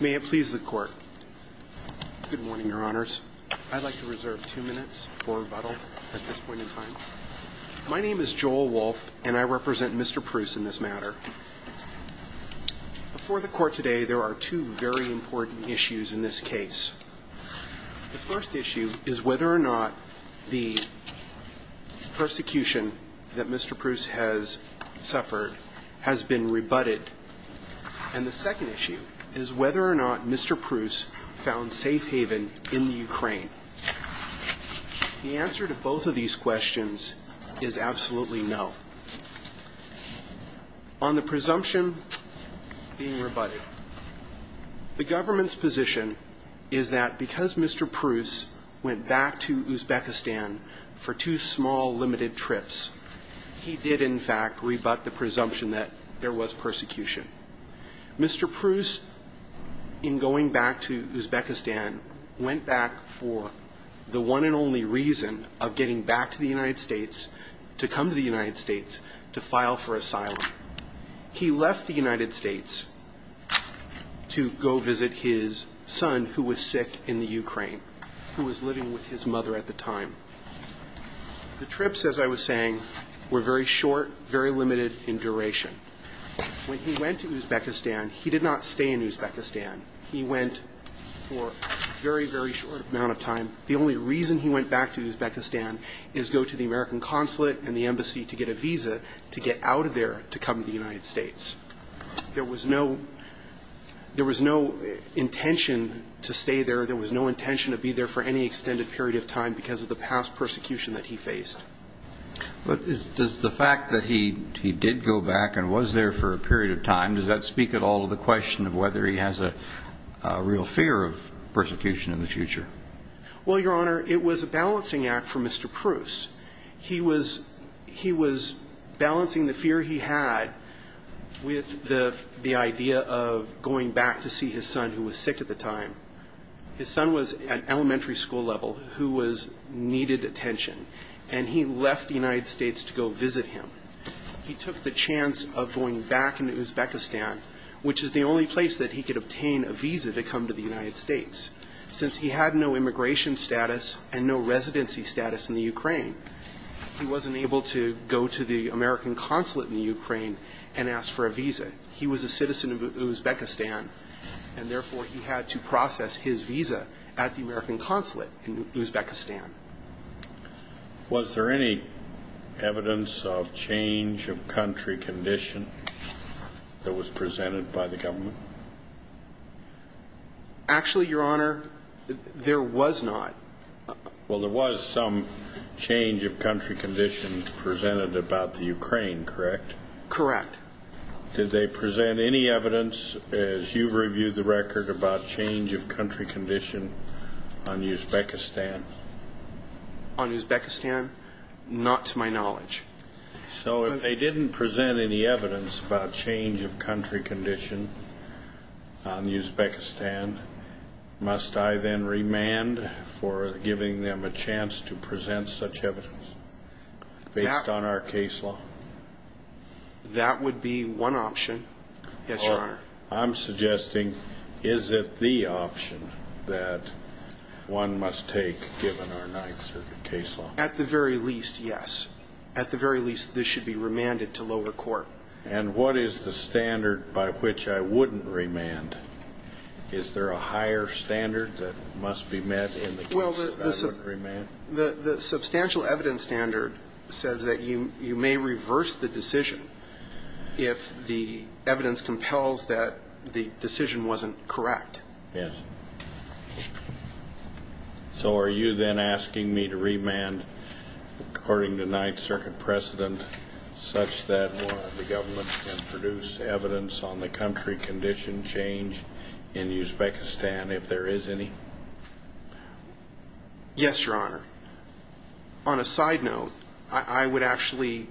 May it please the Court. Good morning, Your Honors. I'd like to reserve two minutes for rebuttal at this point in time. My name is Joel Wolfe, and I represent Mr. Prus in this matter. Before the Court today, there are two very important issues in this case. The first issue is whether or not the persecution that Mr. Prus has suffered has been rebutted. And the second issue is whether or not Mr. Prus found safe haven in the Ukraine. The answer to both of these questions is absolutely no. On the presumption being rebutted, the government's position is that because Mr. Prus, when he went back to Uzbekistan for two small, limited trips, he did in fact rebut the presumption that there was persecution. Mr. Prus, in going back to Uzbekistan, went back for the one and only reason of getting back to the United States, to come to the United States, to file for asylum. He left the United States to go visit his son who was sick in the Ukraine, who was living with his mother at the time. The trips, as I was saying, were very short, very limited in duration. When he went to Uzbekistan, he did not stay in Uzbekistan. He went for a very, very short amount of time. The only reason he went back to Uzbekistan is to go to the American consulate and the embassy to get a visa to get out of there to come to the United States. There was no – there was no intention to stay there. There was no intention to be there for any extended period of time because of the past persecution that he faced. But does the fact that he did go back and was there for a period of time, does that speak at all to the question of whether he has a real fear of persecution in the future? Well, Your Honor, it was a balancing act for Mr. Prus. He was – he was balancing the fear he had with the idea of going back to see his son who was sick at the time. His son was at elementary school level who was – needed attention. And he left the United States to go visit him. He took the chance of going back into Uzbekistan, which is the only place that he could obtain a visa to come to the United States. Since he had no immigration status and no residency status in the Ukraine, he wasn't able to go to the American consulate in the Ukraine and ask for a visa. He was a citizen of Uzbekistan, and therefore he had to process his visa at the American consulate in Uzbekistan. Was there any evidence of change of country condition that was presented by the government? Actually, Your Honor, there was not. Well, there was some change of country condition presented about the Ukraine, correct? Correct. Did they present any evidence, as you've reviewed the record, about change of country condition on Uzbekistan? On Uzbekistan? Not to my knowledge. So if they didn't present any evidence about change of country condition on Uzbekistan, must I then remand for giving them a chance to present such evidence based on our case law? That would be one option, yes, Your Honor. I'm suggesting, is it the option that one must take given our ninth circuit case law? At the very least, yes. At the very least, this should be remanded to lower court. And what is the standard by which I wouldn't remand? Is there a higher standard that must be met in the case that I wouldn't remand? The substantial evidence standard says that you may reverse the decision if the evidence compels that the decision wasn't correct. Yes. So are you then asking me to remand according to ninth circuit precedent such that the government can produce evidence on the country condition change in Uzbekistan, if there is any? Yes, Your Honor. On a side note, I would actually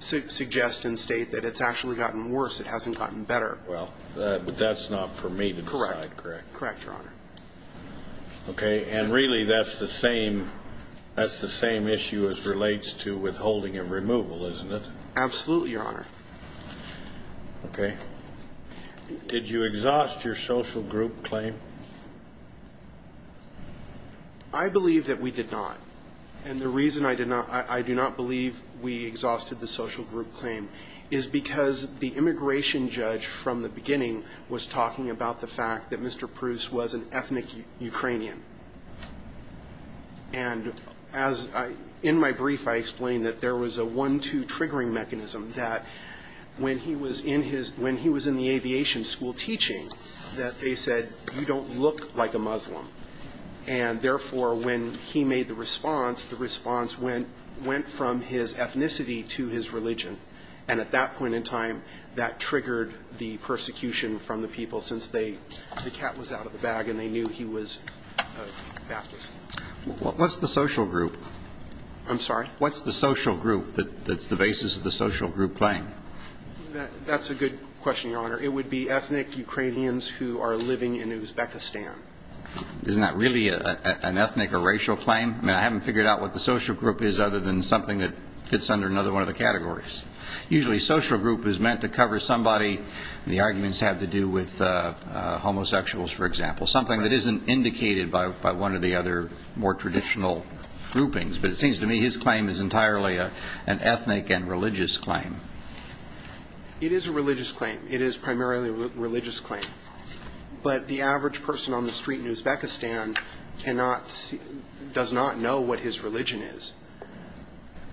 suggest and state that it's actually gotten worse, it hasn't gotten better. Well, but that's not for me to decide, correct? Correct, Your Honor. Okay. And really that's the same issue as relates to withholding and removal, isn't it? Absolutely, Your Honor. Okay. Did you exhaust your social group claim? I believe that we did not. And the reason I do not believe we exhausted the social group claim is because the immigration judge from the beginning was talking about the fact that Mr. Proust was an ethnic Ukrainian. And in my brief, I explained that there was a one-two triggering mechanism, that when he was in his – when he was in the aviation school teaching, that they said, you don't look like a Muslim. And therefore, when he made the response, the response went from his ethnicity to his religion. And at that point in time, that triggered the persecution from the people, since they – the cat was out of the bag and they knew he was a Baptist. What's the social group? I'm sorry? What's the social group that's the basis of the social group claim? That's a good question, Your Honor. It would be ethnic Ukrainians who are living in Uzbekistan. Isn't that really an ethnic or racial claim? I mean, I haven't figured out what the social group is other than something that fits under another one of the categories. Usually social group is meant to cover somebody, and the arguments have to do with homosexuals, for example, something that isn't indicated by one of the other more traditional groupings. But it seems to me his claim is entirely an ethnic and religious claim. It is a religious claim. It is primarily a religious claim. But the average person on the street in Uzbekistan cannot – does not know what his religion is.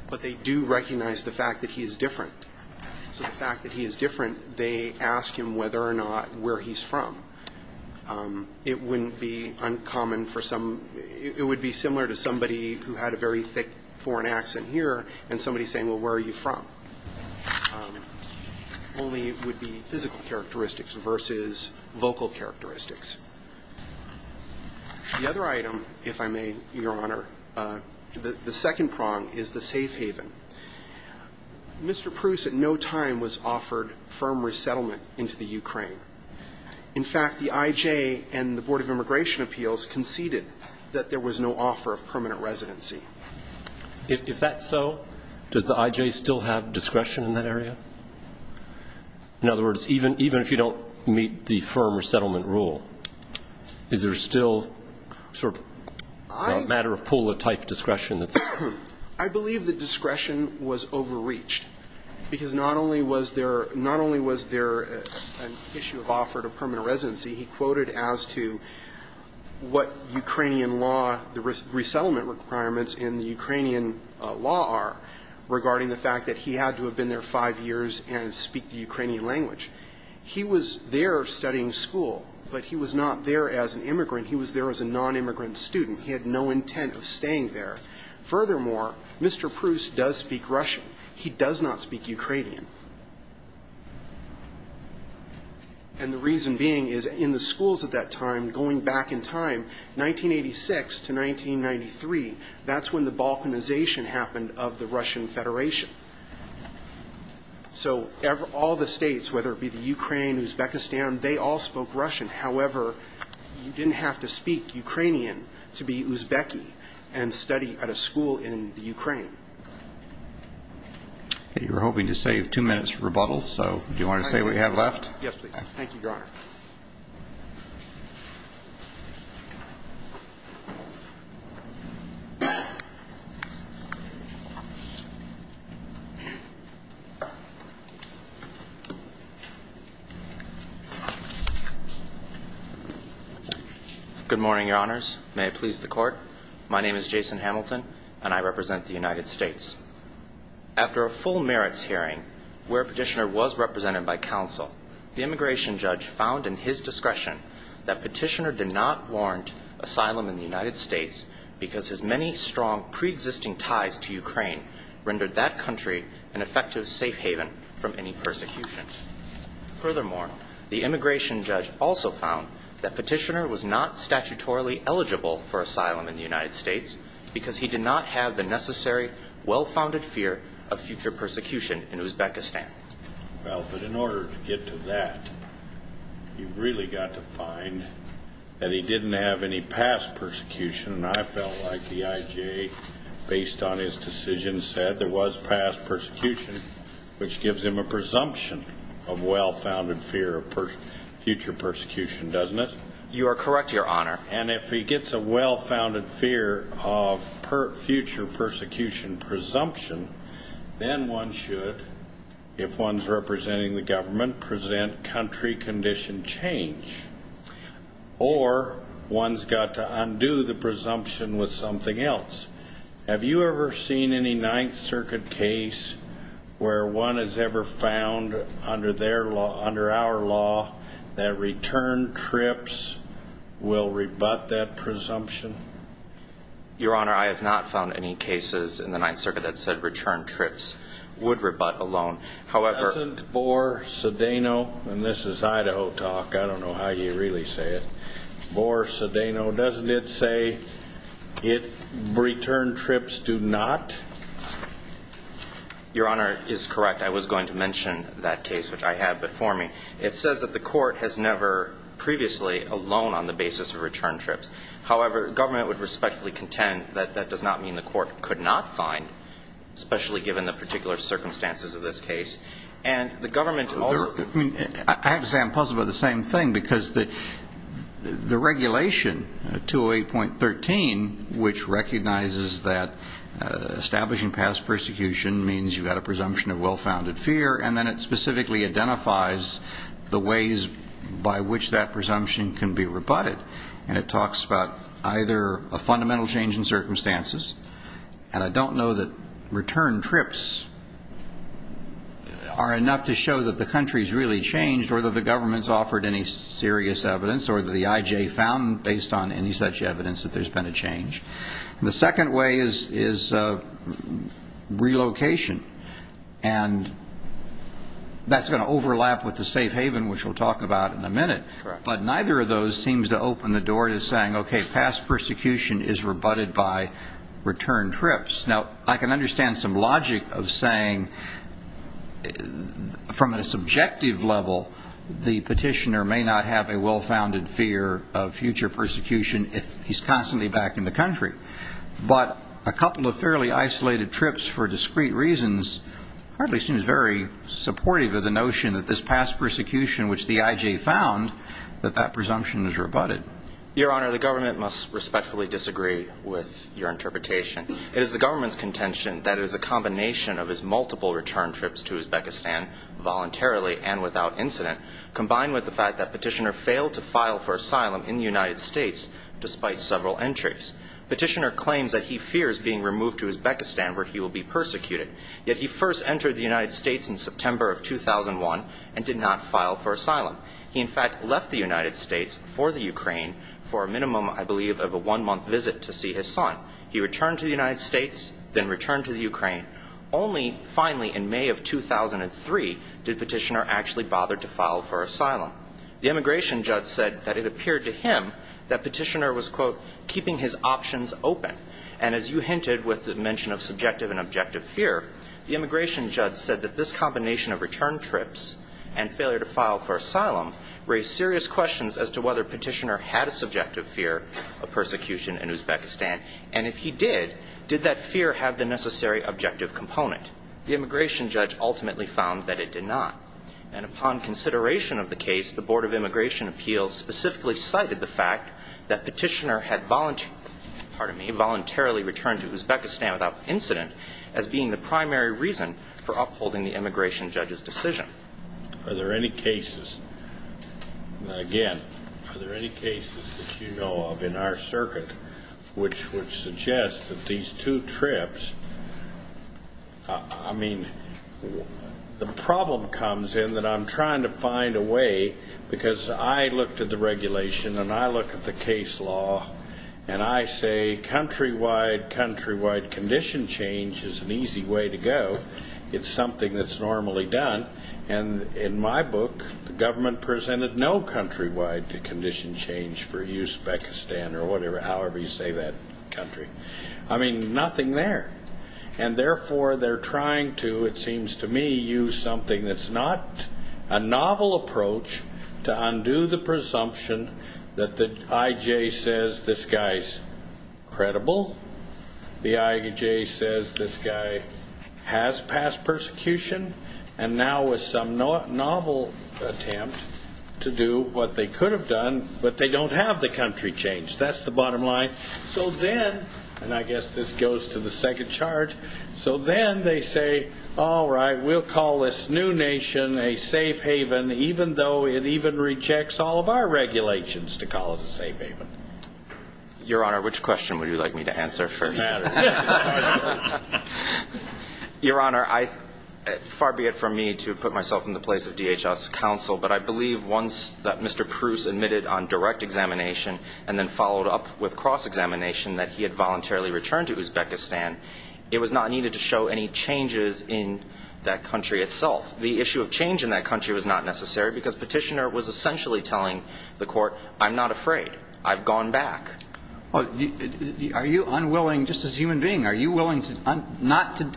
But they do recognize the fact that he is different. So the fact that he is different, they ask him whether or not where he's from. It wouldn't be uncommon for some – it would be similar to somebody who had a very thick foreign accent here and somebody saying, well, where are you from? Only it would be physical characteristics versus vocal characteristics. The other item, if I may, Your Honor, the second prong is the safe haven. Mr. Pruse at no time was offered firm resettlement into the Ukraine. In fact, the I.J. and the Board of Immigration Appeals conceded that there was no offer of permanent residency. If that's so, does the I.J. still have discretion in that area? In other words, even if you don't meet the firm resettlement rule, is there still sort of a matter of pull-a-type discretion that's there? I believe the discretion was overreached, because not only was there – not only was there an issue of offer to permanent residency, he quoted as to what Ukrainian law, the resettlement requirements in the Ukrainian law are regarding the fact that he had to have been there five years and speak the Ukrainian language. He was there studying school, but he was not there as an immigrant. He was there as a nonimmigrant student. He had no intent of staying there. Furthermore, Mr. Pruse does speak Russian. He does not speak Ukrainian. And the reason being is in the schools at that time, going back in time, 1986 to 1993, that's when the Balkanization happened of the Russian Federation. So all the states, whether it be the Ukraine, Uzbekistan, they all spoke Russian. However, you didn't have to speak Ukrainian to be Uzbeki and study at a school in the Ukraine. Okay. We're hoping to save two minutes for rebuttals. So do you want to say what you have left? Yes, please. Thank you, Your Honor. Good morning, Your Honors. May it please the Court? My name is Jason Hamilton, and I represent the United States. After a full merits hearing where Petitioner was represented by counsel, the immigration judge found in his discretion that Petitioner did not warrant asylum in the United States because his many strong preexisting ties to Ukraine rendered that country an effective safe haven from any persecution. Furthermore, the immigration judge also found that Petitioner was not statutorily eligible for asylum in the United States because he did not have the necessary, well-founded fear of future persecution in Uzbekistan. Well, but in order to get to that, you've really got to find that he didn't have any past persecution. And I felt like the IJ, based on his decision, said there was past persecution, which gives him a presumption of well-founded fear of future persecution, doesn't it? You are correct, Your Honor. And if he gets a well-founded fear of future persecution presumption, then one should, if one's representing the government, present country condition change. Or one's got to one has ever found under their law, under our law, that return trips will rebut that presumption? Your Honor, I have not found any cases in the Ninth Circuit that said return trips would rebut alone. However... Doesn't Boer Sedano, and this is Idaho talk, I don't know how you really say it, Boer Sedano, doesn't it say return trips do not? Your Honor is correct. I was going to mention that case, which I had before me. It says that the court has never previously alone on the basis of return trips. However, government would respectfully contend that that does not mean the court could not find, especially given the particular circumstances of this case. And the government also... I have to say I'm puzzled about the same thing, because the regulation, 208.13, which recognizes that establishing past persecution means you've got a presumption of well-founded fear, and then it specifically identifies the ways by which that presumption can be rebutted. And it talks about either a fundamental change in circumstances, and I don't know that return trips are enough to show that the country's really changed or that the government's offered any serious evidence or that the I.J. found, based on any such evidence, that there's been a change. The second way is relocation. And that's going to overlap with the safe haven, which we'll talk about in a minute. But neither of those seems to open the door to saying, okay, past persecution is rebutted by return trips. Now, I can understand some logic of saying, from a subjective level, the petitioner may not have a well-founded fear of future persecution if he's constantly back in the country. But a couple of fairly isolated trips for discrete reasons hardly seems very supportive of the notion that this past persecution, which the I.J. found, that that presumption is rebutted. Your Honor, the government must respectfully disagree with your interpretation. It is the government's contention that it is a combination of his multiple return trips to Uzbekistan voluntarily and without incident, combined with the fact that Petitioner failed to file for asylum in the United States despite several entries. Petitioner claims that he fears being removed to Uzbekistan, where he will be persecuted. Yet he first entered the United States in for a minimum, I believe, of a one-month visit to see his son. He returned to the United States, then returned to the Ukraine. Only finally, in May of 2003, did Petitioner actually bother to file for asylum. The immigration judge said that it appeared to him that Petitioner was, quote, keeping his options open. And as you hinted with the mention of subjective and objective fear, the immigration judge said that this combination of return trips and failure to file for asylum raised serious questions as to whether Petitioner had a subjective fear of persecution in Uzbekistan. And if he did, did that fear have the necessary objective component? The immigration judge ultimately found that it did not. And upon consideration of the case, the Board of Immigration Appeals specifically cited the fact that Petitioner had voluntarily returned to Uzbekistan without incident as being the primary reason for upholding the immigration judge's decision. Are there any cases, again, are there any cases that you know of in our circuit which would suggest that these two trips, I mean, the problem comes in that I'm trying to find a way, because I looked at the regulation and I look at the case law, and I say countrywide, countrywide condition change is an easy way to go. It's something that's normally done. And in my book, the government presented no countrywide condition change for Uzbekistan or whatever, however you say that country. I mean, nothing there. And therefore, they're trying to, it seems to me, use something that's not a novel approach to undo the presumption that the IJ says this guy's credible, the IJ says this guy has passed persecution, and now with some novel attempt to do what they could have done, but they don't have the country change. That's the bottom line. So then, and I guess this goes to the second charge, so then they say, all right, we'll call this new nation a safe haven, even though it even requires regulations to call it a safe haven. Your Honor, which question would you like me to answer for you? Your Honor, far be it from me to put myself in the place of DHS counsel, but I believe once that Mr. Pruce admitted on direct examination and then followed up with cross-examination that he had voluntarily returned to Uzbekistan, it was not needed to show any changes in that country itself. The issue of change in that country was not necessary, because Petitioner was essentially telling the Court, I'm not afraid. I've gone back. Are you unwilling, just as a human being, are you willing not to,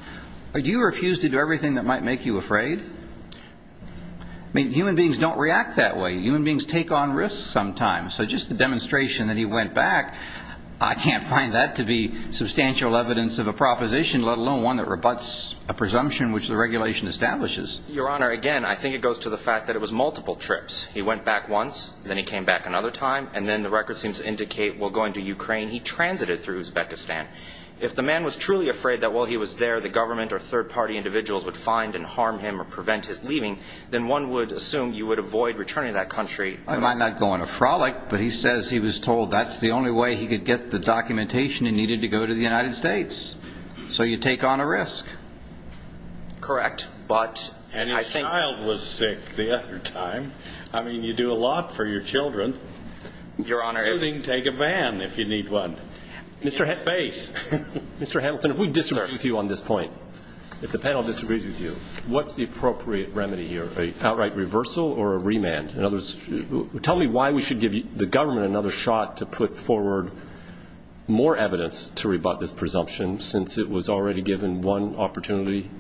do you refuse to do everything that might make you afraid? I mean, human beings don't react that way. Human beings take on risks sometimes. So just the demonstration that he went back, I can't find that to be substantial evidence of a proposition, let alone one that rebuts a presumption which the regulation establishes. Your Honor, again, I think it goes to the fact that it was multiple trips. He went back once, then he came back another time, and then the records seem to indicate, well, going to Ukraine, he transited through Uzbekistan. If the man was truly afraid that while he was there, the government or third-party individuals would find and harm him or prevent his leaving, then one would assume you would avoid returning to that country. I might not go on a frolic, but he says he was told that's the only way he could get the documentation he needed to go to the United States. So you take on a risk. Correct. But I think... And his child was sick the other time. I mean, you do a lot for your children, including take a van if you need one. Mr. Hamilton, if we disagree with you on this point, if the panel disagrees with you, what's the appropriate remedy here? An outright reversal or a remand? In other words, tell me why we should give the government another shot to put forward more evidence to rebut this presumption since it was already given one opportunity?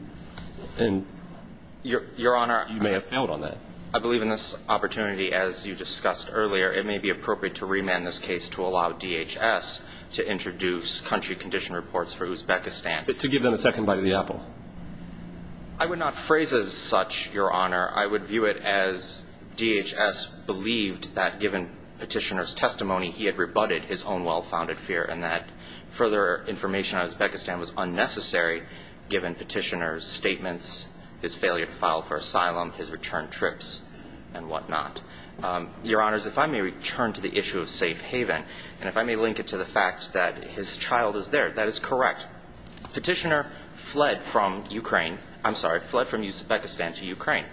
Your Honor... You may have failed on that. I believe in this opportunity, as you discussed earlier, it may be appropriate to remand this case to allow DHS to introduce country condition reports for Uzbekistan. To give them a second bite of the apple. I would not phrase it as such, Your Honor. I would view it as DHS believed that given petitioner's testimony, he had rebutted his own well-founded fear and that further information on Uzbekistan was unnecessary, given petitioner's statements, his failure to file for asylum, his return trips, and whatnot. Your Honors, if I may return to the issue of safe haven, and if I may link it to the fact that his child is there, that is correct. Petitioner fled from Ukraine. I'm sorry, fled from Uzbekistan to Ukraine.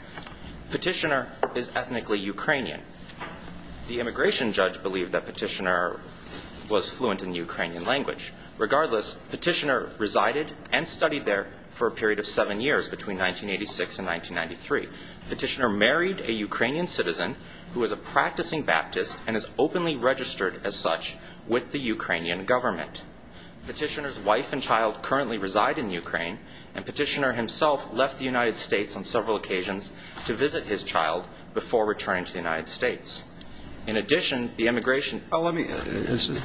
Petitioner is ethnically Ukrainian. The immigration judge believed that petitioner was fluent in Ukrainian language. Regardless, petitioner resided and studied there for a period of seven years, between 1986 and 1993. Petitioner married a Ukrainian citizen who was a practicing Baptist and is openly registered as such with the Ukrainian government. Petitioner's wife and child currently reside in Ukraine, and petitioner himself left the United States on several occasions to visit his child before returning to the United States. In addition, the immigration Well, let me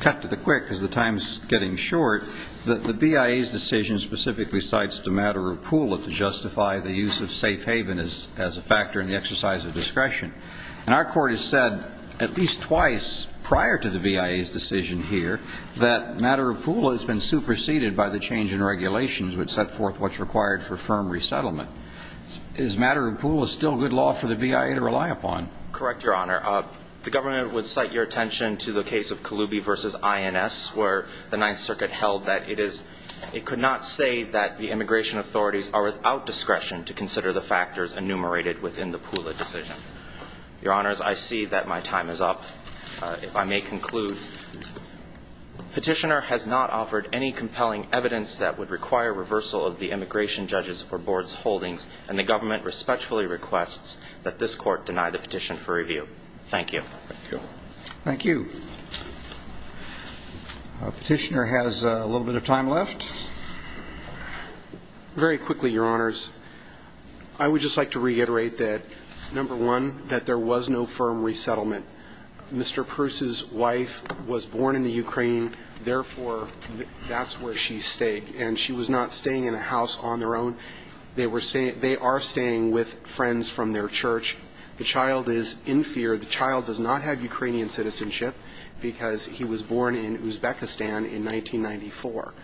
cut to the quick, because the time is getting short. The BIA's decision specifically cites the matter of Pula to justify the use of safe haven as a factor in the exercise of discretion. And our court has said at least twice prior to the BIA's decision here that matter of Pula has been superseded by the change in regulations which set forth what's required for firm resettlement. Is matter of Pula still good law for the BIA to rely upon? Correct, Your Honor. The government would cite your attention to the case of Kaloubi v. INS, where the Ninth Circuit held that it is, it could not say that the immigration authorities are without discretion to consider the factors enumerated within the Pula decision. Your Honors, I see that my time is up. If I may conclude, petitioner has not offered any compelling evidence that would require reversal of the immigration judge's or board's and the government respectfully requests that this court deny the petition for review. Thank you. Thank you. Petitioner has a little bit of time left. Very quickly, Your Honors. I would just like to reiterate that, number one, that there was no firm resettlement. Mr. Pruce's wife was born in the Ukraine. Therefore, that's where she stayed. And she was not staying in a house on their own. They are staying with friends from their church. The child is in fear. The child does not have Ukrainian citizenship because he was born in Uzbekistan in 1994.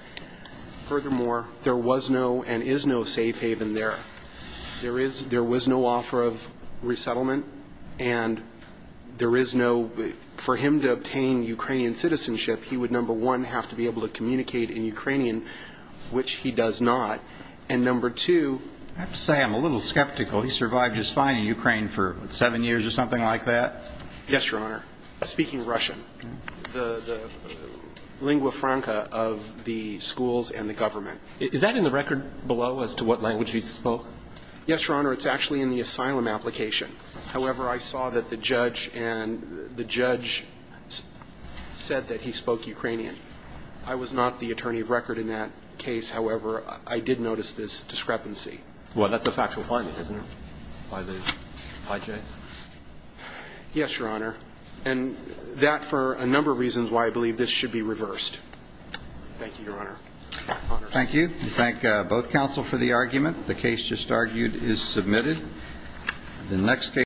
Furthermore, there was no and is no safe haven there. There was no offer of resettlement. And there is no, for him to which he does not. And number two, I have to say I'm a little skeptical. He survived just fine in Ukraine for seven years or something like that. Yes, Your Honor. Speaking Russian, the lingua franca of the schools and the government. Is that in the record below as to what language he spoke? Yes, Your Honor. It's actually in the asylum application. However, I saw that the judge and the judge said that he spoke Ukrainian. I was not the attorney of record in that case. However, I did notice this discrepancy. Well, that's a factual finding, isn't it, by the IJ? Yes, Your Honor. And that for a number of reasons why I believe this should be reversed. Thank you, Your Honor. Thank you. We thank both counsel for the argument. The case just argued is submitted.